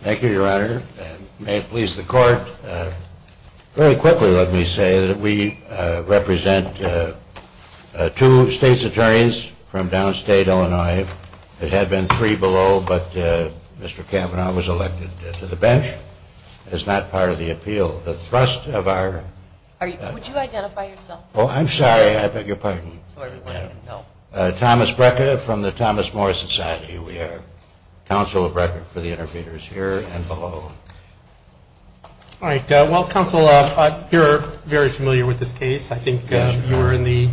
Thank you, Your Honor. May it please the Court, very quickly let me say that we represent two state's attorneys from downstate Illinois. There had been three below, but Mr. Kavanaugh was elected to the bench. It is not part of the appeal. The thrust of our... Are you, would you identify yourself? Oh, I'm sorry, I beg your pardon, ma'am. No. Thomas Brecker from the Thomas More Society. We are counsel of Brecker for the interpreters here and below. All right. Well, counsel, you're very familiar with this case. I think you were in the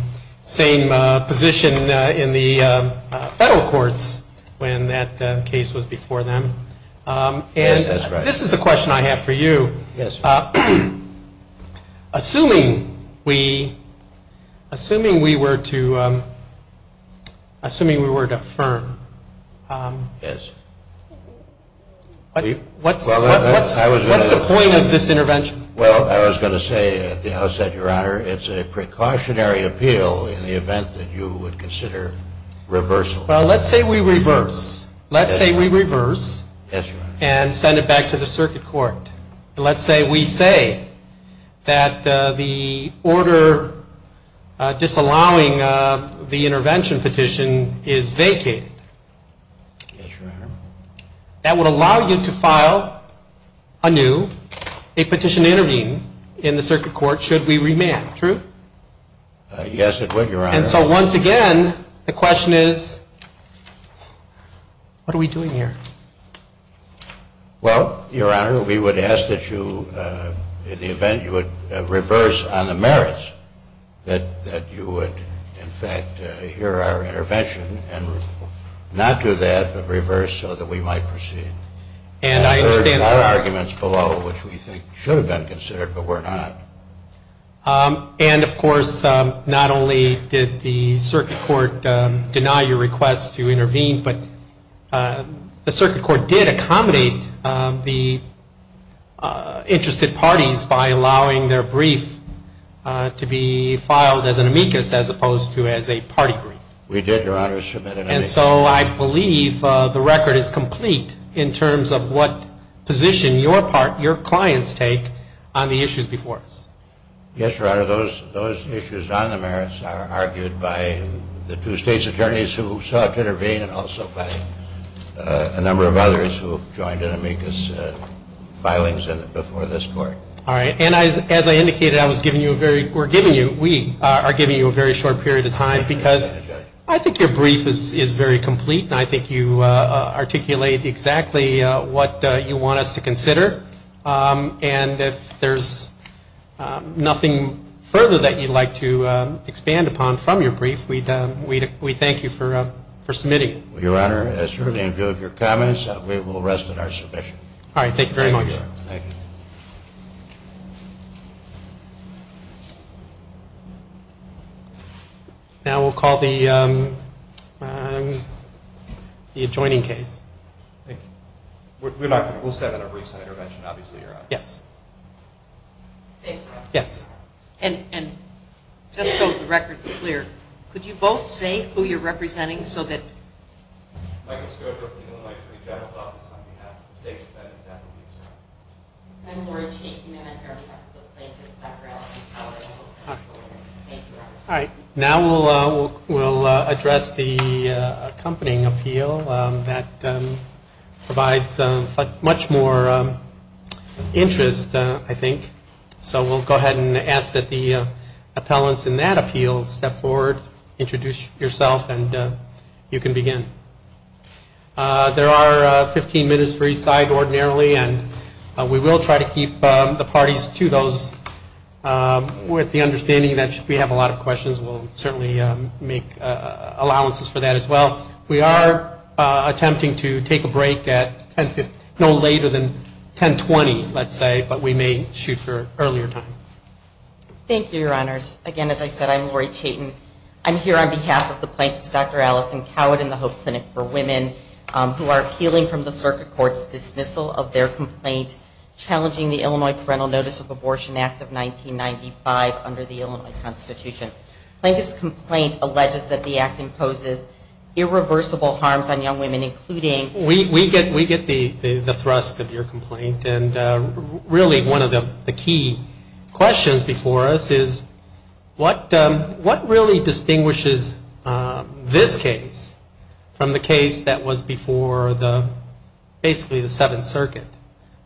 same position in the federal courts when that case was before them. Yes, that's right. And this is the question I have for you. Yes. Assuming we, assuming we were to, assuming we were to affirm... Yes. What's, what's the point of this intervention? Well, I was going to say at the outset, Your Honor, it's a precautionary appeal in the event that you would consider reversal. Well, let's say we reverse. Let's say we reverse. Yes, Your Honor. And send it back to the circuit court. Let's say we say that the order disallowing the intervention petition is vacated. Yes, Your Honor. That would allow you to file anew a petition to intervene in the circuit court, should we remand. True? Yes, it would, Your Honor. And so once again, the question is, what are we doing here? Well, Your Honor, we would ask that you, in the event you would reverse on the merits, that you would, in fact, hear our intervention and not do that, but reverse so that we might proceed. And I understand... There are other arguments below which we think should have been considered, but were not. And, of course, not only did the circuit court deny your request to intervene, but the circuit court did accommodate the interested parties by allowing their brief to be filed as an amicus as opposed to as a party brief. We did, Your Honor. And so I believe the record is complete in terms of what position your clients take on the issues before us. Yes, Your Honor. Those issues on the merits are argued by the two state's attorneys who sought to intervene and also by a number of others who have joined an amicus filings before this court. All right. And as I indicated, we are giving you a very short period of time because I think your brief is very complete, and I think you articulate exactly what you want us to consider. And if there's nothing further that you'd like to expand upon from your brief, we thank you for submitting. Your Honor, as surely in view of your comments, we will rest at our submission. All right. Thank you very much. Thank you, Your Honor. Thank you. Now we'll call the adjoining case. Thank you. We'll start on a brief intervention, obviously, Your Honor. Yes. Yes. And just so the record's clear, could you both say who you're representing so that... Michael Scodro from the Illinois Attorney General's Office on behalf of the state's defendants and the police department. I'm Lori Cheek, and I'm here on behalf of the plaintiffs' background. Thank you, Your Honor. All right. Now we'll address the accompanying appeal that provides much more interest, I think. So we'll go ahead and ask that the appellants in that appeal step forward, introduce yourself, and you can begin. There are 15 minutes for each side ordinarily, and we will try to keep the parties to those With the understanding that we have a lot of questions, we'll certainly make allowances for that as well. We are attempting to take a break at no later than 10.20, let's say, but we may shoot for an earlier time. Thank you, Your Honors. Again, as I said, I'm Lori Chaitin. I'm here on behalf of the plaintiffs, Dr. Allison Coward and the Hope Clinic for Women, who are appealing from the circuit court's dismissal of their complaint challenging the under the Illinois Constitution. Plaintiff's complaint alleges that the act imposes irreversible harms on young women, including We get the thrust of your complaint, and really one of the key questions before us is what really distinguishes this case from the case that was before basically the Seventh Circuit?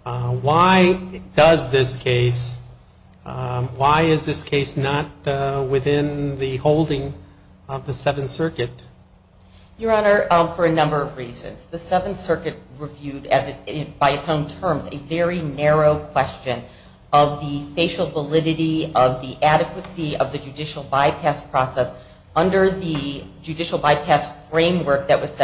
Why does this case, why is this case not within the holding of the Seventh Circuit? Your Honor, for a number of reasons. The Seventh Circuit reviewed by its own terms a very narrow question of the facial validity of the adequacy of the judicial bypass process under the judicial bypass framework that was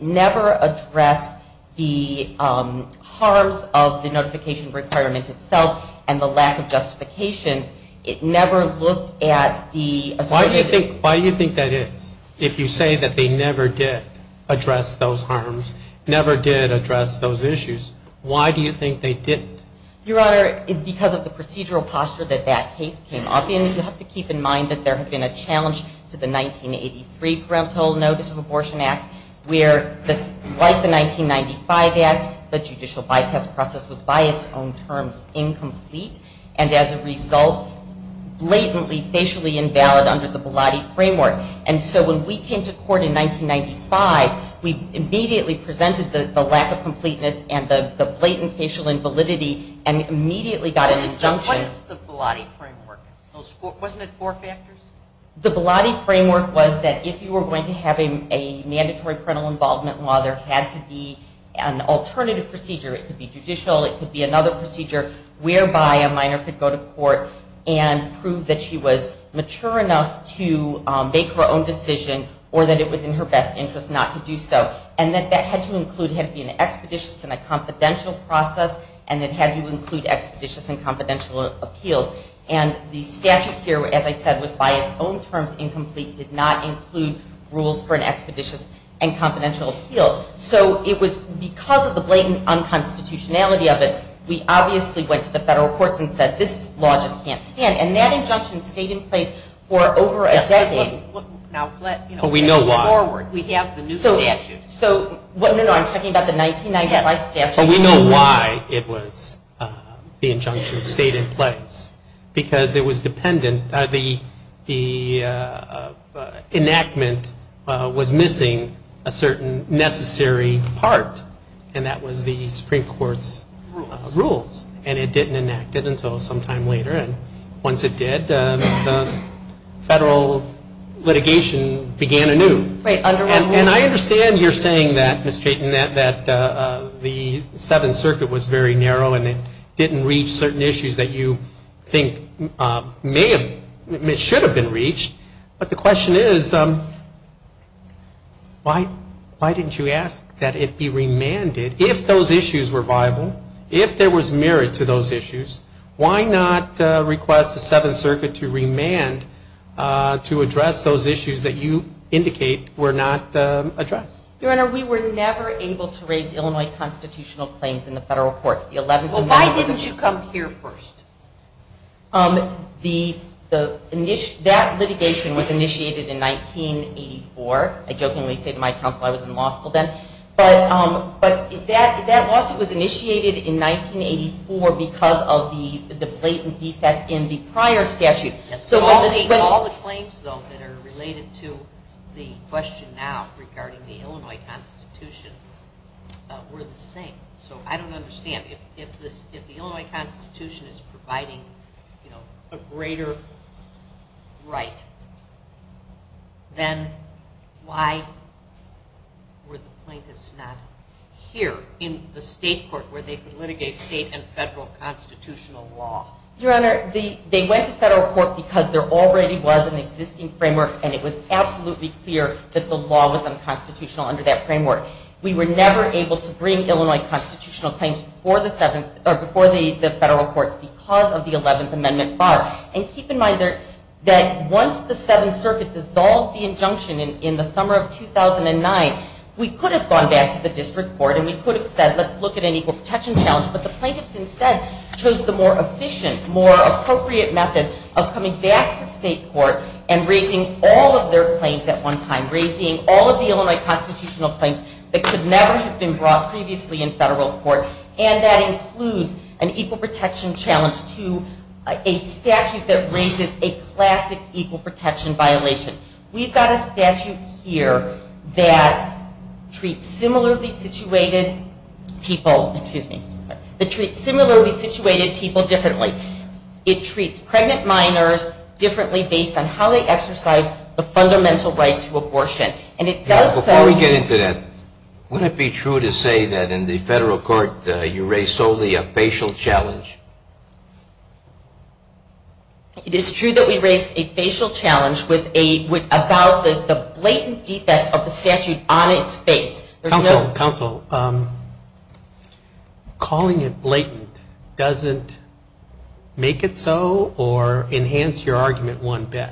never addressed the harms of the notification requirement itself and the lack of justifications. It never looked at the Why do you think that is? If you say that they never did address those harms, never did address those issues, why do you think they didn't? Your Honor, because of the procedural posture that that case came up in, you have to keep in mind that there have been a challenge to the 1983 Parental Notice of Abortion Act where like the 1995 Act, the judicial bypass process was by its own terms incomplete and as a result blatantly, facially invalid under the Bilotti Framework. And so when we came to court in 1995, we immediately presented the lack of completeness and the blatant facial invalidity and immediately got an injunction What is the Bilotti Framework? Wasn't it four factors? The Bilotti Framework was that if you were going to have a mandatory parental involvement law, there had to be an alternative procedure. It could be judicial, it could be another procedure whereby a minor could go to court and prove that she was mature enough to make her own decision or that it was in her best interest not to do so. And that had to include, had to be an expeditious and a confidential process and it had to include expeditious and confidential appeals. And the statute here, as I said, was by its own terms incomplete, did not include rules for an expeditious and confidential appeal. So it was because of the blatant unconstitutionality of it, we obviously went to the federal courts and said this law just can't stand. And that injunction stayed in place for over a decade. But we know why. We have the new statute. No, no, I'm talking about the 1995 statute. We know why it was, the injunction stayed in place. Because it was dependent, the enactment was missing a certain necessary part and that was the Supreme Court's rules. And it didn't enact it until sometime later. And once it did, the federal litigation began anew. And I understand you're saying that, Ms. Chaitin, that the Seventh Circuit was very narrow and it didn't reach certain issues that you think may have, should have been reached. But the question is, why didn't you ask that it be remanded if those issues were viable, if there was merit to those issues, why not request the Seventh Circuit to remand to address those issues that you indicate were not addressed? Your Honor, we were never able to raise Illinois constitutional claims in the federal courts. Well, why didn't you come here first? That litigation was initiated in 1984. I jokingly say to my counsel I was in law school then. But that lawsuit was initiated in 1984 because of the blatant defect in the prior statute. All the claims, though, that are related to the question now regarding the Illinois Constitution were the same. So I don't understand. If the Illinois Constitution is providing a greater right, then why were the plaintiffs not here in the state court where they could litigate state and federal constitutional law? Your Honor, they went to federal court because there already was an existing framework and it was absolutely clear that the law was unconstitutional under that framework. We were never able to bring Illinois constitutional claims before the federal courts because of the Eleventh Amendment bar. And keep in mind that once the Seventh Circuit dissolved the injunction in the summer of 2009, we could have gone back to the district court and we could have said, let's look at an equal protection challenge. But the plaintiffs instead chose the more efficient, more appropriate method of coming back to state court and raising all of their claims at one time. Raising all of the Illinois constitutional claims that could never have been brought previously in federal court. And that includes an equal protection challenge to a statute that raises a classic equal protection violation. We've got a statute here that treats similarly situated people differently. It treats pregnant minors differently based on how they exercise the fundamental right to abortion. Before we get into that, would it be true to say that in the federal court you raised solely a facial challenge? It is true that we raised a facial challenge about the blatant defect of the statute on its face. Counsel, counsel, calling it blatant doesn't make it so or enhance your argument one bit.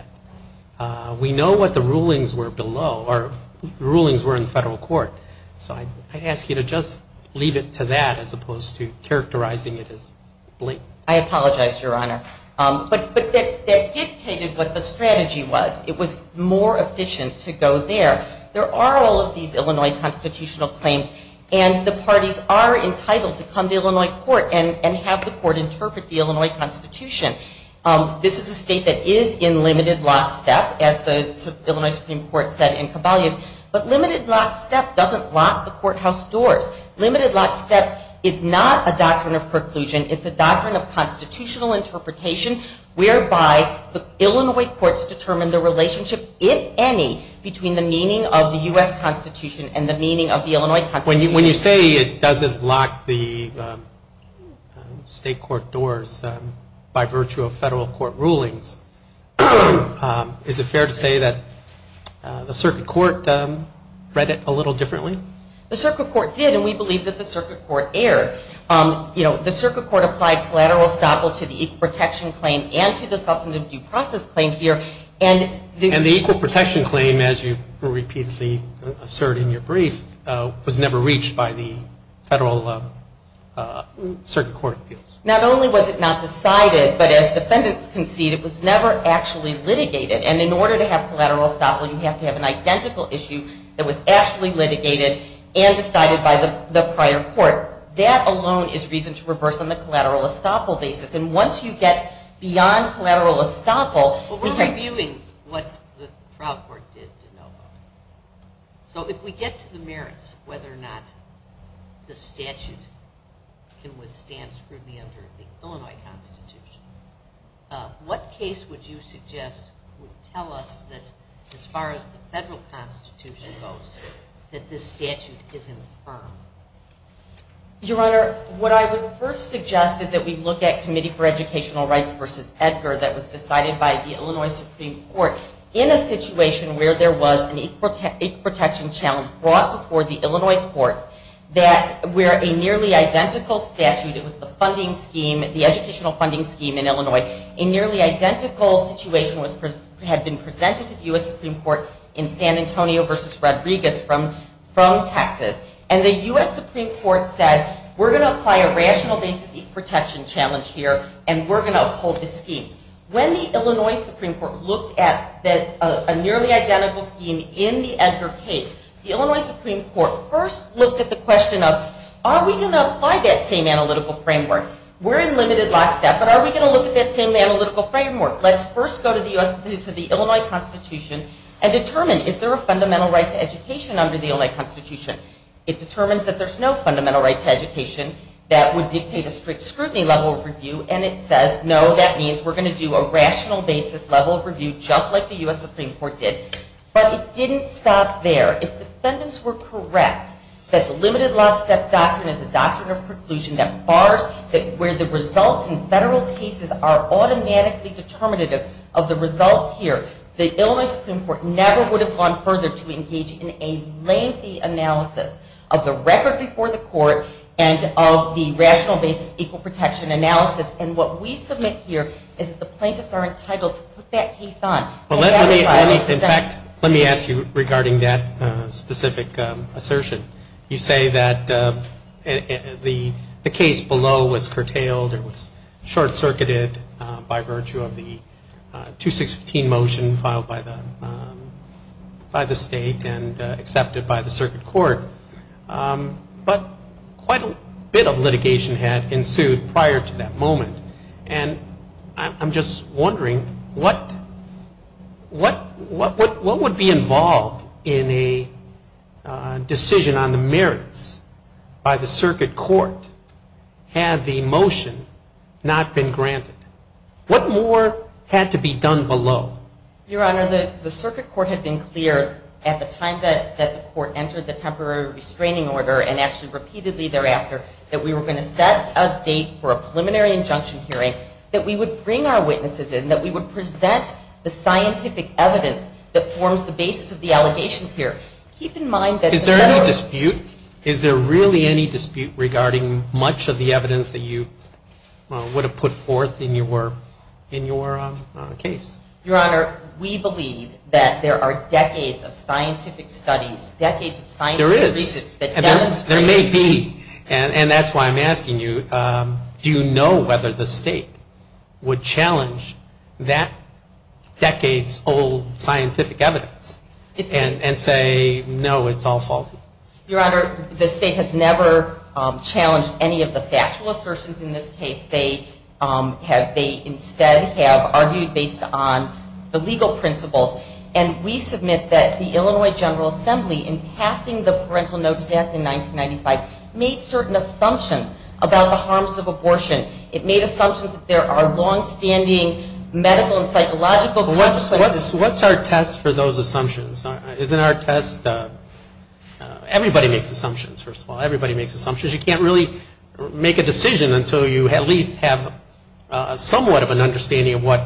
We know what the rulings were below, or the rulings were in federal court. So I ask you to just leave it to that as opposed to characterizing it as blatant. I apologize, Your Honor. But that dictated what the strategy was. It was more efficient to go there. There are all of these Illinois constitutional claims and the parties are entitled to come to Illinois court and have the court interpret the Illinois Constitution. This is a state that is in limited lockstep, as the Illinois Supreme Court said in Caballos. But limited lockstep doesn't lock the courthouse doors. Limited lockstep is not a doctrine of preclusion. It's a doctrine of constitutional interpretation whereby the Illinois courts determine the relationship, if any, between the meaning of the U.S. Constitution and the meaning of the Illinois Constitution. When you say it doesn't lock the state court doors by virtue of federal court rulings, is it fair to say that the circuit court read it a little differently? The circuit court did, and we believe that the circuit court erred. The circuit court applied collateral estoppel to the equal protection claim and to the substantive due process claim here. And the equal protection claim, as you repeatedly assert in your brief, was never reached by the federal circuit court appeals. Not only was it not decided, but as defendants concede, it was never actually litigated. And in order to have collateral estoppel, you have to have an identical issue that was actually litigated and decided by the prior court. That alone is reason to reverse on the collateral estoppel basis. And once you get beyond collateral estoppel... But we're reviewing what the trial court did to no vote. So if we get to the merits, whether or not the statute can withstand scrutiny under the Illinois Constitution, what case would you suggest would tell us that as far as the federal constitution goes, that this statute is infirm? Your Honor, what I would first suggest is that we look at Committee for Educational Rights v. Edgar that was decided by the Illinois Supreme Court in a situation where there was an equal protection challenge brought before the Illinois courts where a nearly identical statute... It was the educational funding scheme in Illinois. A nearly identical situation had been presented to the U.S. Supreme Court in San Antonio v. Rodriguez from Texas. And the U.S. Supreme Court said, we're going to apply a rational basis protection challenge here and we're going to uphold this scheme. When the Illinois Supreme Court looked at a nearly identical scheme in the Edgar case, the Illinois Supreme Court first looked at the question of are we going to apply that same analytical framework? We're in limited last step, but are we going to look at that same analytical framework? and determine is there a fundamental right to education under the Illinois Constitution? It determines that there's no fundamental right to education that would dictate a strict scrutiny level of review and it says, no, that means we're going to do a rational basis level of review just like the U.S. Supreme Court did. But it didn't stop there. If the defendants were correct that the limited last step doctrine is a doctrine of preclusion that bars where the results in federal cases are automatically determinative of the results here, the Illinois Supreme Court never would have gone further to engage in a lengthy analysis of the record before the court and of the rational basis equal protection analysis and what we submit here is that the plaintiffs are entitled to put that case on. In fact, let me ask you regarding that specific assertion. You say that the case below was curtailed or was short-circuited by virtue of the 216 motion filed by the state and accepted by the circuit court. But quite a bit of litigation had ensued prior to that moment. And I'm just wondering what would be involved in a decision on the merits by the circuit court had the motion not been granted? What more had to be done below? Your Honor, the circuit court had been clear at the time that the court entered the temporary restraining order and actually repeatedly thereafter that we were going to set a date for a preliminary injunction hearing that we would bring our witnesses in, that we would present the scientific evidence that forms the basis of the allegations here. Is there any dispute? Is there really any dispute regarding much of the evidence that you would have put forth in your case? Your Honor, we believe that there are decades of scientific studies, decades of scientific research There is. that demonstrate There may be. And that's why I'm asking you, do you know whether the state would challenge that decades-old scientific evidence and say, no, it's all faulty? Your Honor, the state has never challenged any of the factual assertions in this case. They instead have argued based on the legal principles. And we submit that the Illinois General Assembly in passing the Parental Notice Act in 1995 made certain assumptions about the harms of abortion. It made assumptions that there are long-standing medical and psychological consequences. What's our test for those assumptions? Isn't our test... Everybody makes assumptions, first of all. Everybody makes assumptions. You can't really make a decision until you at least have somewhat of an understanding of what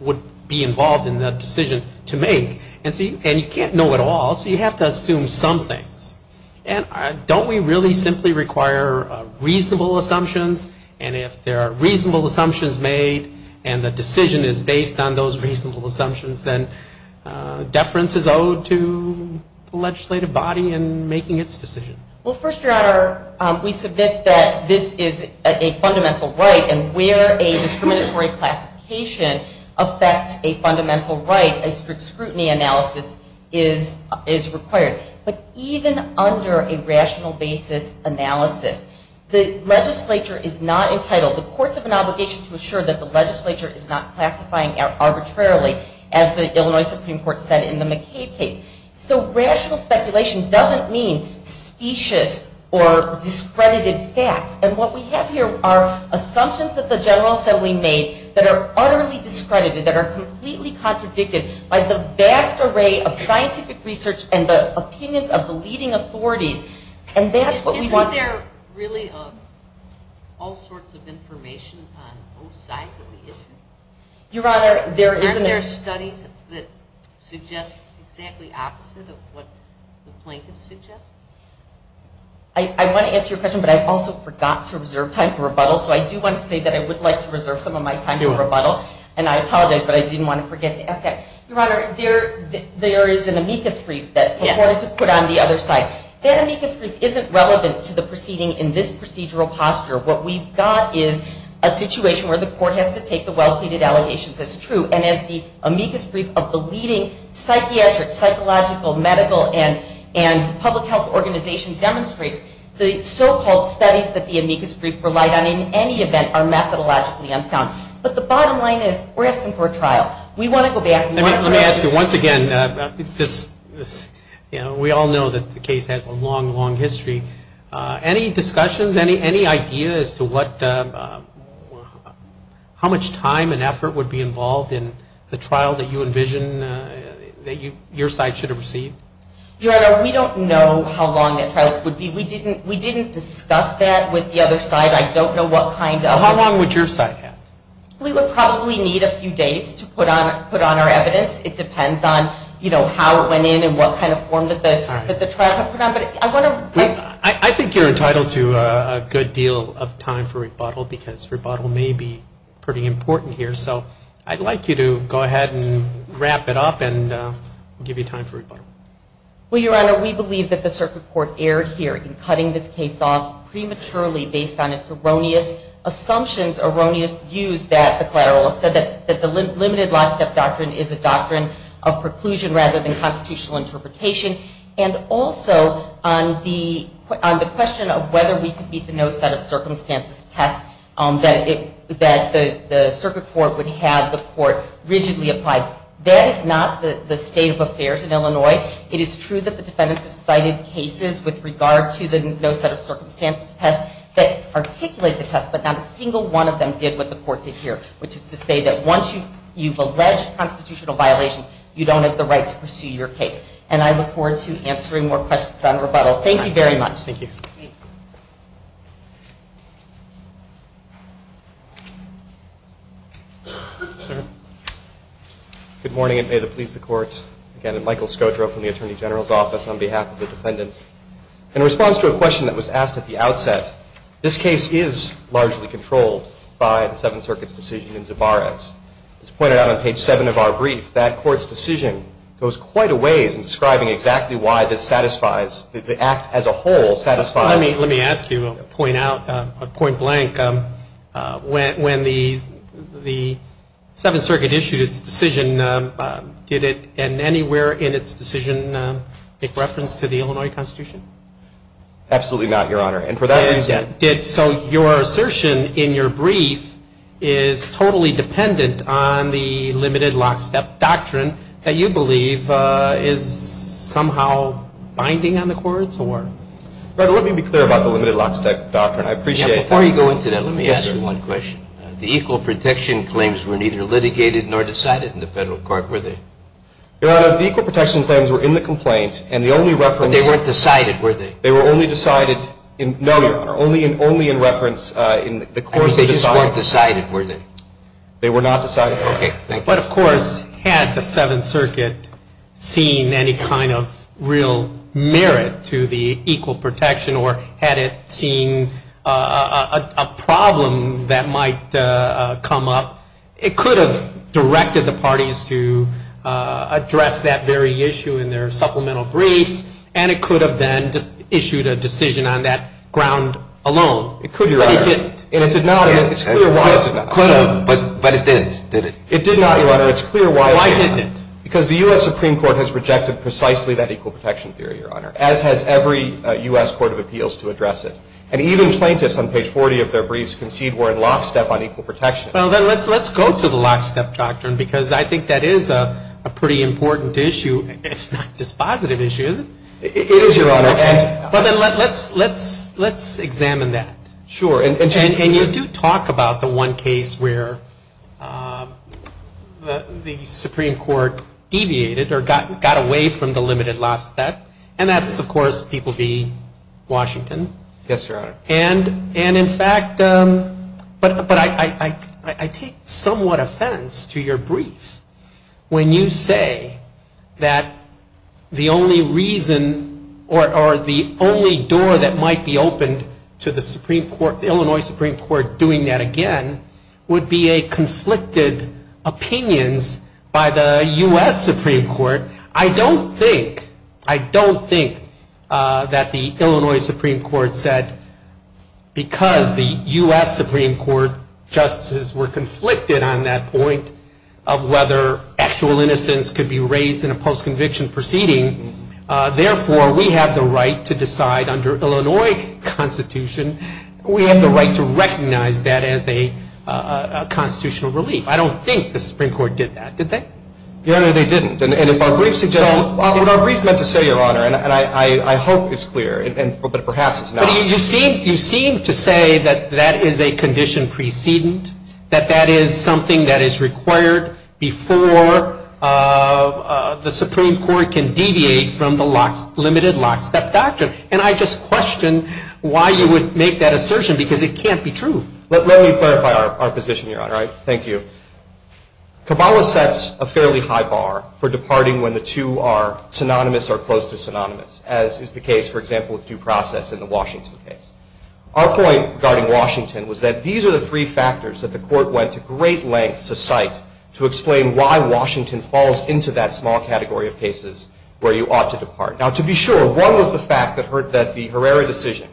would be involved in the decision to make. And you can't know it all, so you have to assume some things. And don't we really simply require reasonable assumptions? And if there are reasonable assumptions made and the decision is based on those reasonable assumptions, then deference is owed to the legislative body in making its decision. Well, first, Your Honor, we submit that this is a fundamental right, and where a discriminatory classification affects a fundamental right, a strict scrutiny analysis is required. But even under a rational basis analysis, the legislature is not entitled... The courts have an obligation to assure that the legislature is not classifying arbitrarily, as the Illinois Supreme Court said in the McCabe case. So rational speculation doesn't mean specious or discredited facts. And what we have here are assumptions that the General Assembly made that are utterly discredited, that are completely contradicted by the vast array of scientific research and the opinions of the leading authorities. And that's what we want... Isn't there really all sorts of information on both sides of the issue? Your Honor, there isn't... that suggests exactly the opposite of what the plaintiffs suggest? I want to answer your question, but I also forgot to reserve time for rebuttal, so I do want to say that I would like to reserve some of my time for rebuttal, and I apologize, but I didn't want to forget to ask that. Your Honor, there is an amicus brief that the courts have put on the other side. That amicus brief isn't relevant to the proceeding in this procedural posture. What we've got is a situation where the court has to take the well-pleaded allegations as true, and as the amicus brief of the leading psychiatric, psychological, medical, and public health organizations demonstrates, the so-called studies that the amicus brief relied on in any event are methodologically unsound. But the bottom line is we're asking for a trial. We want to go back... Let me ask you once again... We all know that the case has a long, long history. Any discussions, any ideas as to what... how much time and effort would be involved in the trial that you envision that your side should have received? Your Honor, we don't know how long that trial would be. We didn't discuss that with the other side. I don't know what kind of... How long would your side have? We would probably need a few days to put on our evidence. It depends on how it went in and what kind of form that the trial had put on. I think you're entitled to a good deal of time for rebuttal because rebuttal may be pretty important here. So I'd like you to go ahead and wrap it up and give you time for rebuttal. Well, Your Honor, we believe that the Circuit Court erred here in cutting this case off prematurely based on its erroneous assumptions, erroneous views that the collateralists said that the limited lockstep doctrine is a doctrine of preclusion rather than constitutional interpretation and also on the question of whether we could meet the no set of circumstances test that the Circuit Court would have the Court rigidly apply. That is not the state of affairs in Illinois. It is true that the defendants have cited cases with regard to the no set of circumstances test that articulate the test but not a single one of them did what the Court did here which is to say that once you've alleged constitutional violations you don't have the right to pursue your case. And I look forward to answering more questions on rebuttal. Thank you very much. Good morning and may it please the Court. Again, I'm Michael Scotro from the Attorney General's Office on behalf of the defendants. In response to a question that was asked at the outset this case is largely controlled by the Seventh Circuit's decision in Zavarez. As pointed out on page 7 of our brief that Court's decision goes quite a ways in describing exactly why this satisfies, the act as a whole satisfies. Let me ask you a point out, a point blank when the the Seventh Circuit issued its decision, did it in anywhere in its decision make reference to the Illinois Constitution? Absolutely not, Your Honor. And for that reason... So your assertion in your brief is totally dependent on the limited lockstep doctrine that you believe is somehow binding on the courts or? Your Honor, let me be clear about the limited lockstep doctrine. I appreciate that. Before you go into that, let me ask you one question. The equal protection claims were neither litigated nor decided in the federal court, were they? Your Honor, the equal protection claims were in the complaint and the only reference... But they weren't decided were they? They were only decided in, no Your Honor, only in reference in the course of the... And they just weren't decided were they? They were not decided. Okay, thank you. But of course, had the Seventh Circuit seen any kind of real merit to the equal protection or had it seen a problem that might come up it could have directed the parties to address that very issue in their supplemental briefs and it could have then issued a decision on that ground alone. It could, Your Honor. But it didn't. And it did not, and it's clear why it did not. It could have, but it didn't, did it? It did not, Your Honor. It's clear why it did not. Why didn't it? Because the U.S. Supreme Court has rejected precisely that equal protection theory, Your Honor. As has every U.S. Court of Appeals to address it. And even plaintiffs on page 40 of their briefs concede were in lockstep on equal protection. Well, then let's go to the lockstep doctrine because I think that is a pretty important issue, if not dispositive issue, is it? It is, Your Honor. But then let's examine that. Sure. And you do talk about the one case where the Supreme Court deviated or got away from the limited lockstep and that's, of course, people v. Washington. Yes, Your Honor. And in fact but I take somewhat offense to your brief when you say that the only reason or the only door that might be opened to the Supreme Court, the Illinois Supreme Court, doing that again would be a conflicted opinions by the U.S. Supreme Court. I don't think, I don't think that the Illinois Supreme Court said because the U.S. Supreme Court justices were conflicted on that point of whether actual innocence could be raised in a post-conviction proceeding. Therefore, we have the right to decide under Illinois Constitution we have the right to recognize that as a constitutional relief. I don't think the Supreme Court did that. Did they? Your Honor, they didn't. And if our brief suggests What our brief meant to say, Your Honor, and I hope it's clear, but perhaps it's not. You seem to say that that is a condition precedent, that that is something that is required before the Supreme Court can deviate from the limited lockstep doctrine. And I just question why you would make that assertion because it can't be true. Let me clarify our position, Your Honor. Thank you. Kabbalah sets a fairly high bar for departing when the two are synonymous or close to synonymous, as is the case for example with due process in the Washington case. Our point regarding Washington was that these are the three factors that the Court went to great lengths to cite to explain why Washington falls into that small category of cases where you ought to depart. Now to be sure one was the fact that the Herrera decision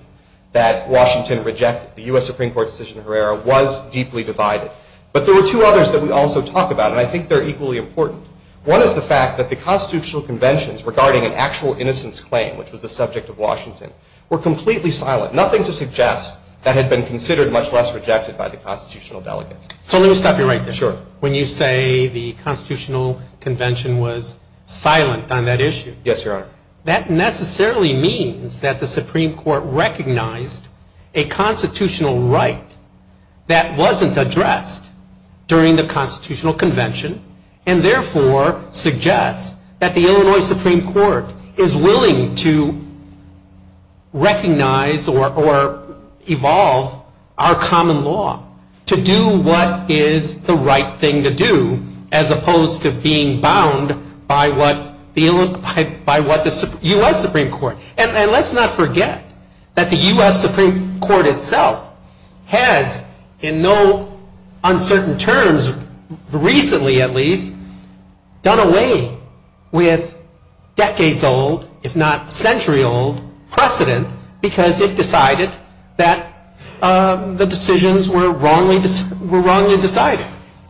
that Washington rejected, the U.S. Supreme Court decision on Herrera was deeply divided. But there were two others that we also talk about and I think they're equally important. One is the fact that the constitutional conventions regarding an actual innocence claim, which was the subject of Washington, were completely silent. Nothing to suggest that had been considered much less rejected by the constitutional delegates. So let me stop you right there. Sure. When you say the constitutional convention was silent on that issue. Yes, Your Honor. That necessarily means that the Supreme Court recognized a constitutional right that wasn't addressed during the constitutional convention and therefore suggests that the Illinois Supreme Court is willing to recognize or evolve our what is the right thing to do as opposed to being bound by what the U.S. Supreme Court and let's not forget that the U.S. Supreme Court itself has in no uncertain terms recently at least done away with decades old if not century old precedent because it decided that the decisions were wrongly decided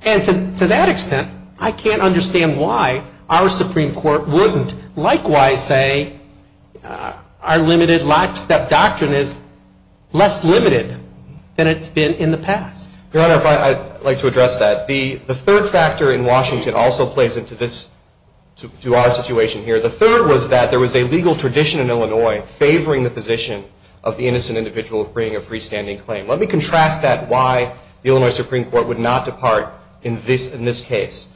and to that extent I can't understand why our Supreme Court wouldn't likewise say our limited life step doctrine is less limited than it's been in the past. Your Honor, I'd like to address that. The third factor in Washington also plays into this, to our situation here. The third was that there was a legal tradition in Illinois favoring the position of the innocent individual bringing a freestanding claim. Let me contrast that why the Illinois Supreme Court would not depart in this case.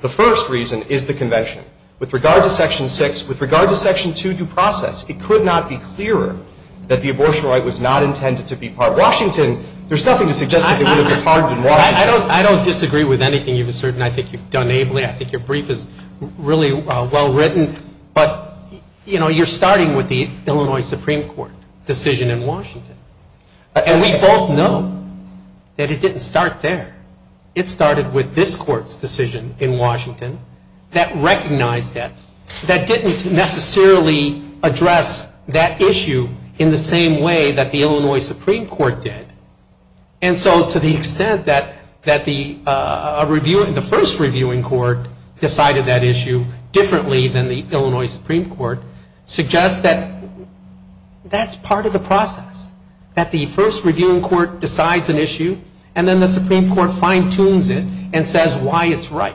The first reason is the convention. With regard to Section 6, with regard to Section 2 due process, it could not be clearer that the abortion right was not intended to be part. Washington there's nothing to suggest that it would have departed in Washington. I don't disagree with anything you've asserted and I think you've done ably. I think your brief is really well written but you know you're starting with the Illinois Supreme Court decision in Washington. And we both know that it didn't start there. It started with this court's decision in Washington that recognized that. That didn't necessarily address that issue in the same way that the Illinois Supreme Court did. And so to the extent that that the first reviewing court decided that issue differently than the Illinois Supreme Court suggests that that's part of the process. That the first reviewing court decides an issue and then the Supreme Court fine tunes it and says why it's right.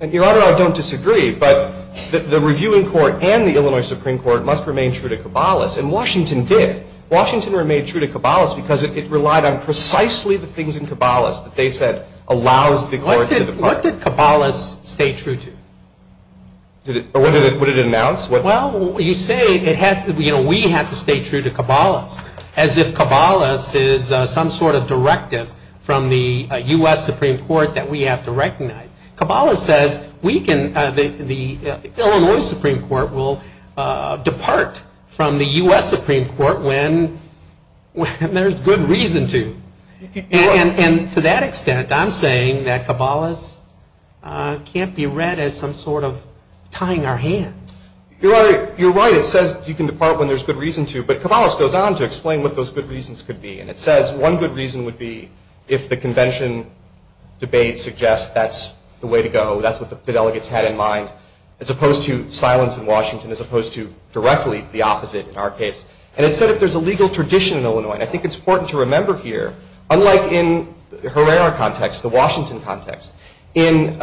And your honor I don't disagree but the reviewing court and the Illinois Supreme Court must remain true to Cabalas and Washington did. Washington remained true to Cabalas because it relied on precisely the things in Cabalas that they said allows the courts to depart. What did Cabalas stay true to? What did it announce? Well you say we have to stay true to Cabalas as if Cabalas is some sort of directive from the U.S. Supreme Court that we have to recognize. Cabalas says we can, the Illinois Supreme Court will depart from the U.S. Supreme Court when there's good reason to. And to that extent I'm saying that Cabalas can't be read as some sort of tying our hands. You're right it says you can depart when there's good reason to but Cabalas goes on to explain what those good reasons could be and it says one good reason would be if the convention debate suggests that's the way to go. That's what the delegates had in mind as opposed to silence in Washington as opposed to directly the opposite in our case. And it said if there's a legal tradition in Illinois and I think it's important to remember here unlike in Herrera context the Washington context in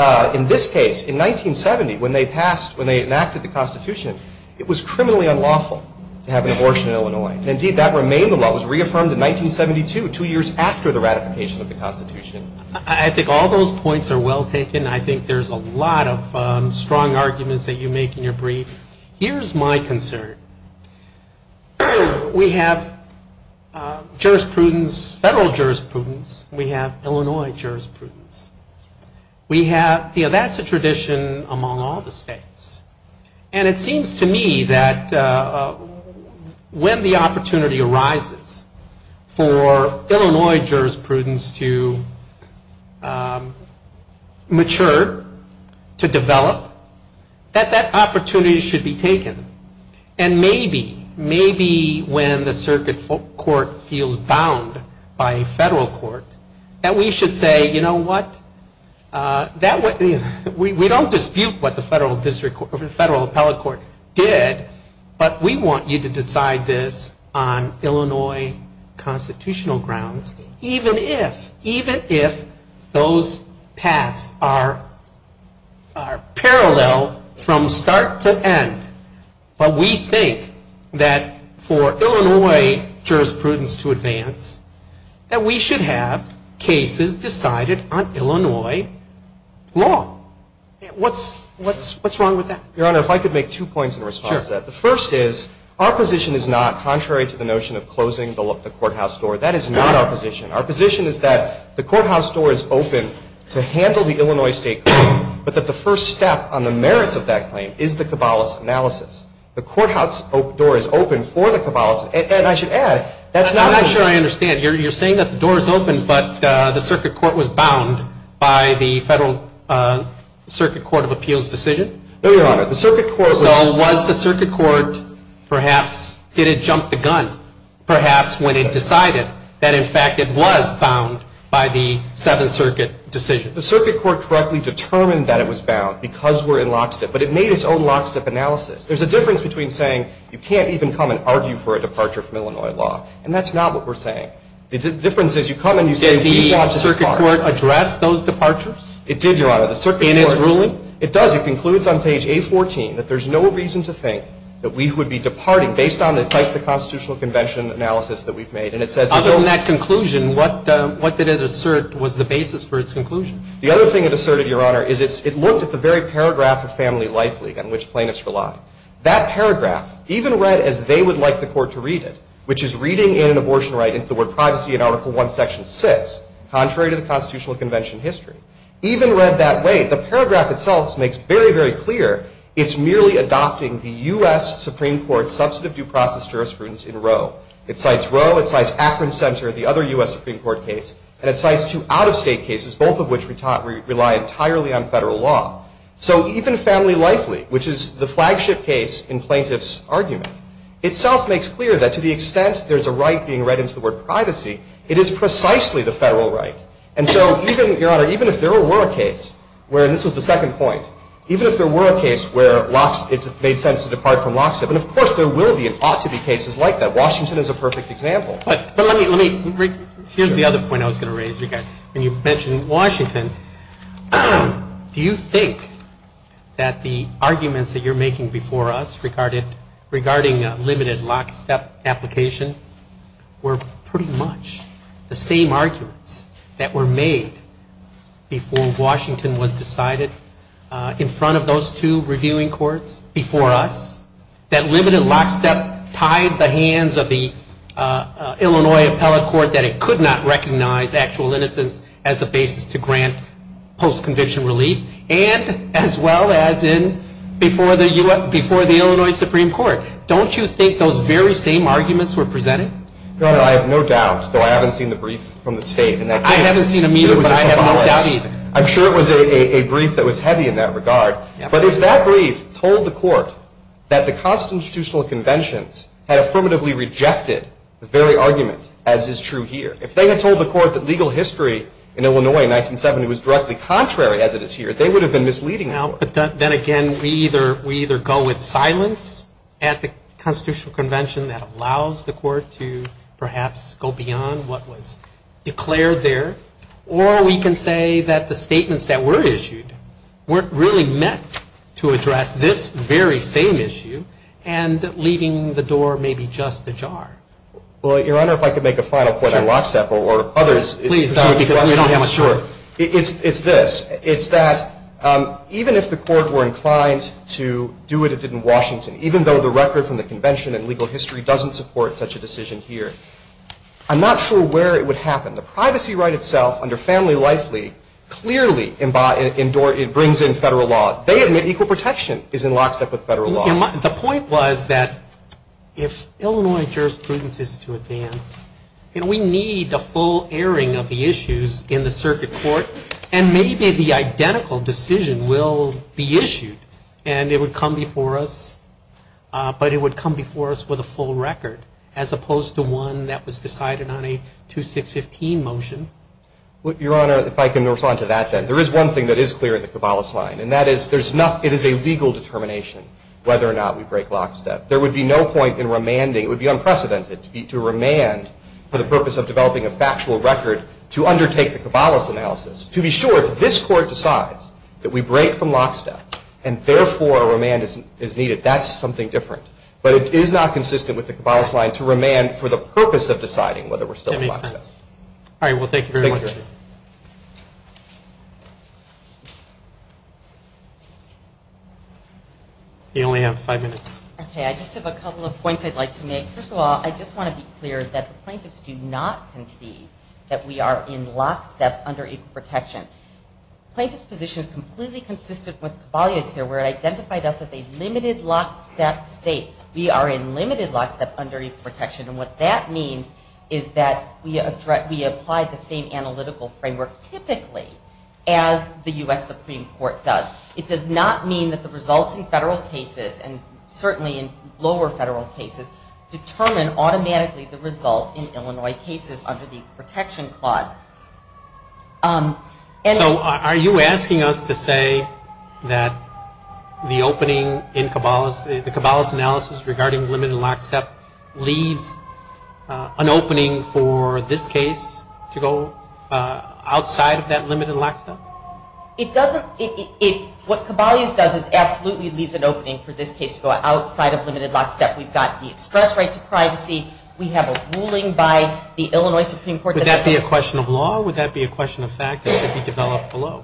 this case in 1970 when they passed, when they enacted the Constitution it was criminally unlawful to have an abortion in Illinois. And indeed that remained the law. It was reaffirmed in 1972 two years after the ratification of the Constitution. I think all those points are well taken. I think there's a lot of strong arguments that you make in your brief. Here's my concern. We have jurisprudence, federal jurisprudence we have Illinois jurisprudence we have that's a tradition among all the states and it seems to me that when the opportunity arises for Illinois jurisprudence to mature, to develop that that opportunity should be taken and maybe, maybe when the circuit court feels bound by a federal court that we should say, you know what that would we don't dispute what the federal district federal appellate court did but we want you to decide this on Illinois constitutional grounds even if, even if those paths are parallel from start to end. But we think that for Illinois jurisprudence to advance that we should have cases decided on Illinois law. What's wrong with that? Your Honor, if I could make two points in response to that. The first is, our position is not contrary to the notion of closing the courthouse door. That is not our position. Our position is that the courthouse door is open to handle the Illinois state claim, but that the first step on the merits of that claim is the cabalis analysis. The courthouse door is open for the cabalis. And I should add I'm not sure I understand. You're saying that the door is open, but the circuit court was bound by the federal circuit court of appeals decision? No, Your Honor. So was the circuit court perhaps, did it jump the gun? Perhaps when it decided that in fact it was bound by the seventh circuit decision. The circuit court correctly determined that it was bound because we're in lockstep but it made its own lockstep analysis. There's a difference between saying you can't even come and argue for a departure from Illinois law. And that's not what we're saying. The difference is you come and you say we have to depart. Did the circuit court address those departures? It did, Your Honor. And it's ruling? It does. It concludes on page A14 that there's no reason to think that we would be departing based on the constitutional convention analysis that we've made. Other than that conclusion, what did it assert was the basis for its conclusion? The other thing it asserted, Your Honor, is it looked at the very paragraph of Family Life League on which plaintiffs rely. That paragraph, even read as they would like the court to read it, which is reading in an abortion right into the word privacy in Article I, Section 6, contrary to the constitutional convention history, even read that way, the paragraph itself makes very, very clear it's merely adopting the U.S. Supreme Court's substantive due process jurisprudence in Roe. It cites Roe, it cites Akron Center, the other U.S. Supreme Court case, and it cites two out-of-state cases, both of which rely entirely on federal law. So even Family Life League, which is the flagship case in plaintiffs' argument, itself makes clear that to the extent there's a right being read into the word privacy, it is precisely the federal right. And so even, Your Honor, even if there were a case where, and this was the second point, even if there were a case where it made sense to depart from lockstep, and of course there will be and ought to be cases like that. Washington is a perfect example. But let me, here's the other point I was going to raise again. When you mentioned Washington, do you think that the arguments that you're making before us regarding limited lockstep application were pretty much the same arguments that were made before Washington was decided in front of those two reviewing courts before us? That limited lockstep tied the hands of the Illinois Appellate Court that it could not recognize actual innocence as a basis to grant post-convention relief and as well as in before the Illinois Supreme Court. Don't you think those very same arguments were presented? Your Honor, I have no doubt, though I haven't seen the brief from the state in that case. I haven't seen it either, but I have no doubt either. I'm sure it was a brief that was heavy in that regard. But if that brief told the court that the constitutional conventions had affirmatively rejected the very argument, as is true here, if they had told the court that legal history in Illinois in 1970 was directly contrary, as it is here, they would have been misleading. But then again, we either go with silence at the constitutional convention that allows the court to perhaps go beyond what was declared there, or we can say that the statements that were issued weren't really meant to address this very same issue, and leaving the door maybe just ajar. Well, Your Honor, if I could make a final point on lockstep, or others, because we don't have much time. It's this. It's that even if the court were inclined to do what it did in Washington, even though the record from the convention and legal history doesn't support such a decision here, I'm not sure where it would happen. The privacy right itself, under Family Life League, clearly brings in federal law. They admit equal protection is in lockstep with federal law. The point was that if Illinois jurisprudence is to advance, and we need a full airing of the issues in the circuit court, and maybe the identical decision will be issued, and it would come before us, but it would come before us with a full record, as opposed to one that was decided on a 2615 motion. Your Honor, if I can respond to that, then. There is one thing that is clear in the Cabales line, and that is it is a legal determination whether or not we break lockstep. There would be no point in remanding. It would be unprecedented to remand for the purpose of developing a factual record to undertake the Cabales analysis. To be sure, if this court decides that we break from lockstep, and therefore a remand is needed, that's something different. But it is not consistent with the Cabales line to remand for the purpose of deciding whether we're still in lockstep. All right. Well, thank you very much. You only have five minutes. I just have a couple of points I'd like to make. First of all, I just want to be clear that the plaintiffs do not concede that we are in lockstep under equal protection. The plaintiff's position is completely consistent with Cabales here, where it identified us as a limited lockstep state. We are in limited lockstep under equal protection, and what that means is that we apply the same analytical framework typically as the U.S. Supreme Court does. It does not mean that the results in federal cases, and certainly in lower federal cases, determine automatically the result in Illinois cases under the protection clause. So are you asking us to say that the opening in Cabales, the Cabales analysis regarding limited lockstep, leaves an opening for this case to go outside of that limited lockstep? It doesn't. What Cabales does is absolutely leaves an opening for this case to go outside of limited lockstep. We've got the express rights of privacy. We have a ruling by the Illinois Supreme Court. Would that be a question of law? Would that be a question of fact that should be developed below?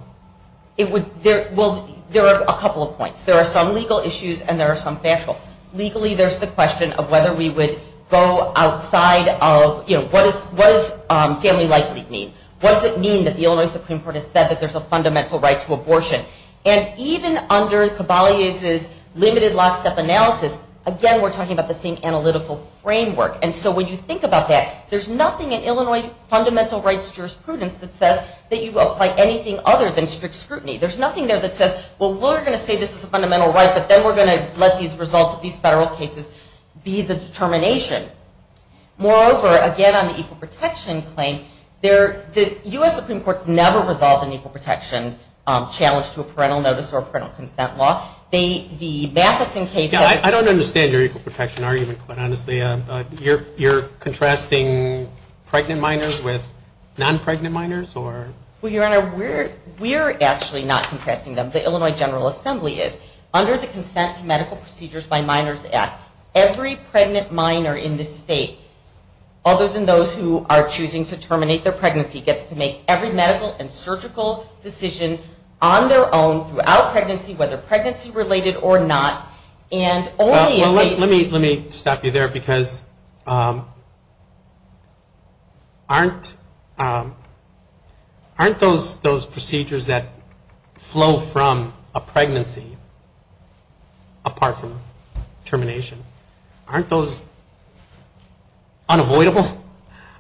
There are a couple of points. There are some legal issues, and there are some factual. Legally, there's the question of whether we would go outside of, you know, what does family life leave mean? What does it mean that the Illinois Supreme Court has said that there's a fundamental right to abortion? And even under Cabales' limited lockstep analysis, again, we're talking about the same analytical framework. And so when you think about that, there's nothing in Illinois fundamental rights jurisprudence that says that you apply anything other than strict scrutiny. There's nothing there that says, well, we're going to say this is a fundamental right, but then we're going to let these results of these federal cases be the determination. Moreover, again, on the equal protection claim, the U.S. Supreme Court's never resolved an equal protection challenge to a parental notice or a parental consent law. The Matheson case has... I don't understand your equal protection argument, but honestly you're contrasting pregnant minors with non-pregnant minors? Well, Your Honor, we're actually not contrasting them. The Illinois General Assembly is. Under the Consent to Medical Procedures by Minors Act, every pregnant minor in this state other than those who are choosing to terminate their pregnancy, gets to make every medical and surgical decision on their own throughout pregnancy, whether pregnancy related or not. Let me stop you there, because aren't those procedures that flow from a pregnancy apart from termination? Aren't those unavoidable?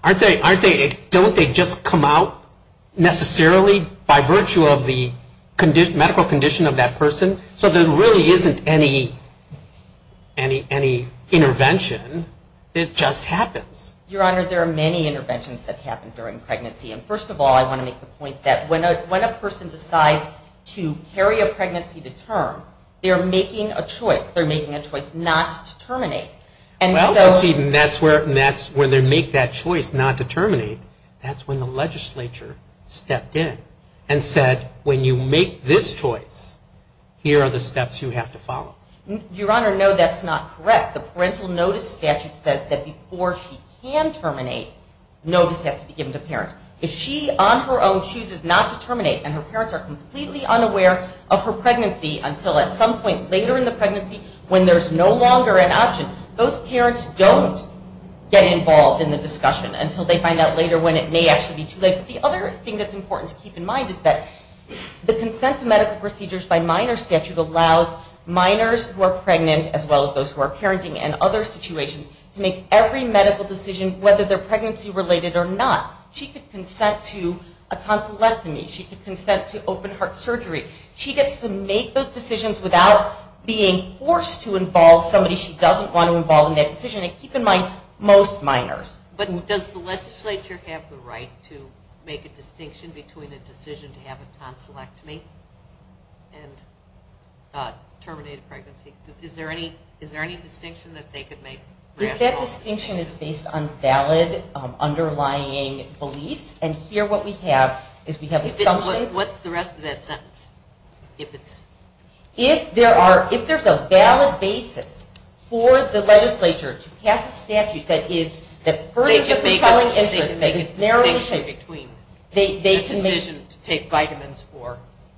Don't they just come out necessarily by virtue of the medical condition of that person? So there really isn't any intervention. It just happens. Your Honor, there are many interventions that happen during pregnancy. And first of all, I want to make the point that when a person decides to carry a pregnancy to term, they're making a choice. They're making a choice not to terminate. Well, that's where they make that choice not to terminate. That's when the legislature stepped in and said, when you make this choice, here are the steps you have to follow. Your Honor, no, that's not correct. The parental notice statute says that before she can terminate, notice has to be given to parents. If she, on her own, chooses not to terminate and her parents are completely unaware of her pregnancy until at some point later in the pregnancy when there's no longer an option, those parents don't get involved in the discussion until they find out later when it may actually be too late. But the other thing that's important to keep in mind is that the consent to medical procedures by minor statute allows minors who are pregnant as well as those who are parenting and other situations to make every medical decision whether they're pregnancy related or not. She could consent to a tonsillectomy. She could consent to open heart surgery. She gets to make those decisions without being forced to involve somebody she doesn't want to involve in that decision. And keep in mind, most minors. But does the legislature have the right to make a distinction between a decision to have a tonsillectomy and a terminated pregnancy? Is there any distinction that they could make? That distinction is based on valid, underlying beliefs. And here what we have is we have assumptions. What's the rest of that sentence? If it's... If there's a valid basis for the legislature to pass a statute that is further propelling interest. They can make a distinction between a decision to take vitamins or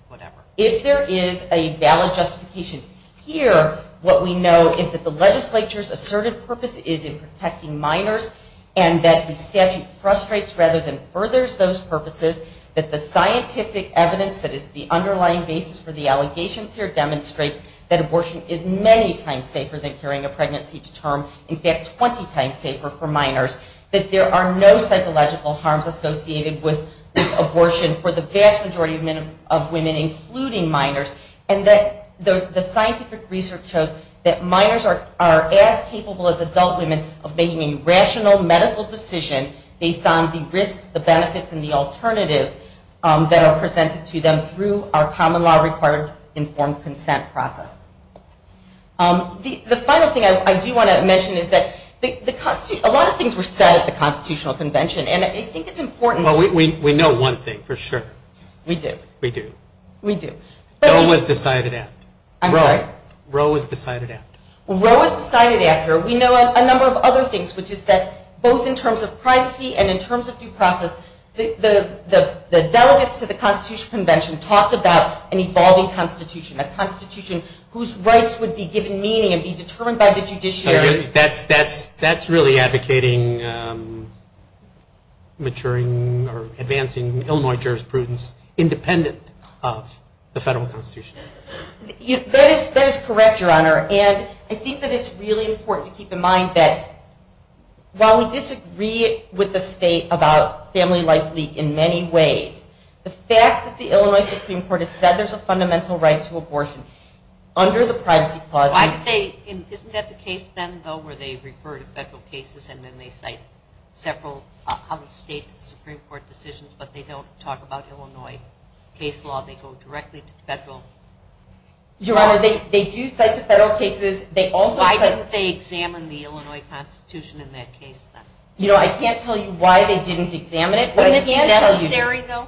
whatever. If there is a valid justification here what we know is that the legislature's assertive purpose is in protecting minors and that the statute frustrates rather than furthers those obligations. The scientific evidence that is the underlying basis for the allegations here demonstrates that abortion is many times safer than carrying a pregnancy to term. In fact, 20 times safer for minors. That there are no psychological harms associated with abortion for the vast majority of women, including minors. And that the scientific research shows that minors are as capable as adult women of making rational medical decisions based on the risks, the benefits, and the alternatives that are presented to them through our common law required informed consent process. The final thing I do want to mention is that a lot of things were said at the Constitutional Convention and I think it's important... We know one thing for sure. We do. Roe was decided after. Roe was decided after. Roe was decided after. We know a number of other things, which is that both in terms of privacy and in terms of due process the delegates to the Constitutional Convention talked about an evolving constitution. A constitution whose rights would be given meaning and be determined by the judiciary. That's really advocating maturing or advancing Illinois jurisprudence independent of the federal constitution. That is correct Your Honor. And I think that it's really important to keep in mind that while we disagree with the state about Family Life League in many ways the fact that the Illinois Supreme Court has said there's a fundamental right to abortion under the Privacy Clause... Isn't that the case then though where they refer to federal cases and then they cite several state Supreme Court decisions but they don't talk about Illinois case law. They go directly to federal. Your Honor, they do cite to federal cases. Why didn't they examine the Illinois Constitution in that case then? You know, I can't tell you why they didn't examine it. But it's necessary though?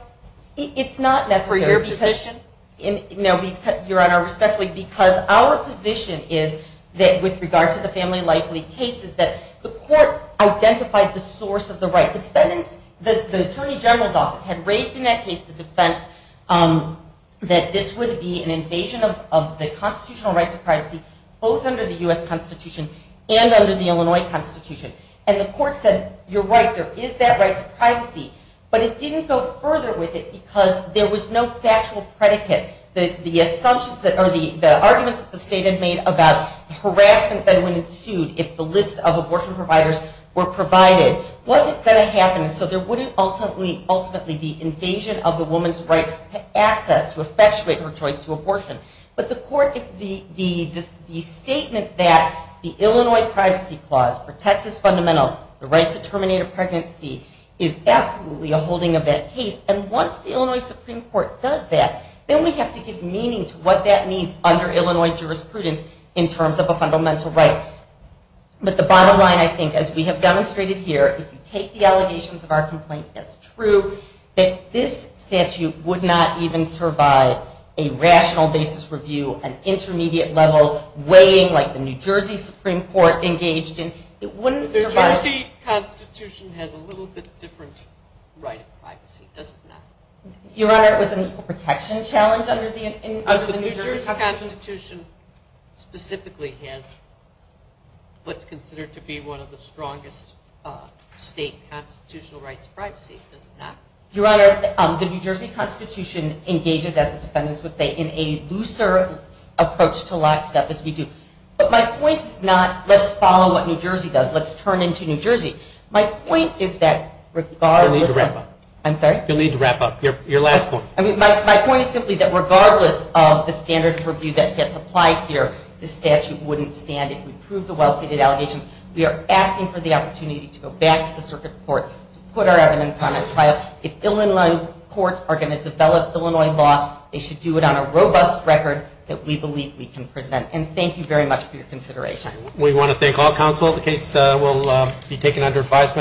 It's not necessary. For your position? Your Honor, respectfully, because our position is that with regard to the Family Life League case is that the court identified the source of the right. The defendants, the Attorney General's Office had raised in that case the defense that this would be an invasion of the constitutional right to privacy both under the U.S. Constitution and under the Illinois Constitution. And the court said, you're right, there is that right to privacy. But it didn't go further with it because there was no factual predicate. The arguments that the state had made about harassment that would ensue if the list of abortion providers were provided wasn't going to happen. So there wouldn't ultimately be invasion of the woman's right to access to effectuate her choice to abortion. But the court, the statement that the Illinois Privacy Clause protects as fundamental the right to terminate a pregnancy is absolutely a holding of that case. And once the Illinois Supreme Court does that, then we have to give meaning to what that means under Illinois jurisprudence in terms of a fundamental right. But the bottom line, I think, as we have demonstrated here if you take the allegations of our complaint as true, that this would not survive a rational basis review, an intermediate level weighing like the New Jersey Supreme Court engaged in, it wouldn't survive The New Jersey Constitution has a little bit different right to privacy, doesn't it? Your Honor, it was an equal protection challenge under the New Jersey Constitution The New Jersey Constitution specifically has what's considered to be one of the strongest state constitutional rights to privacy, does it not? Your Honor, the New Jersey Constitution engages, as the defendants would say, in a looser approach to lockstep as we do. But my point is not, let's follow what New Jersey does, let's turn into New Jersey My point is that regardless You'll need to wrap up. I'm sorry? You'll need to wrap up Your last point. My point is simply that regardless of the standard review that gets applied here, the statute wouldn't stand if we prove the well-treated allegations. We are asking for the opportunity to go back to the circuit court to put our evidence on a trial If Illinois courts are going to develop Illinois law, they should do it on a robust record that we believe we can present. And thank you very much for your consideration. We want to thank all counsel The case will be taken under advisement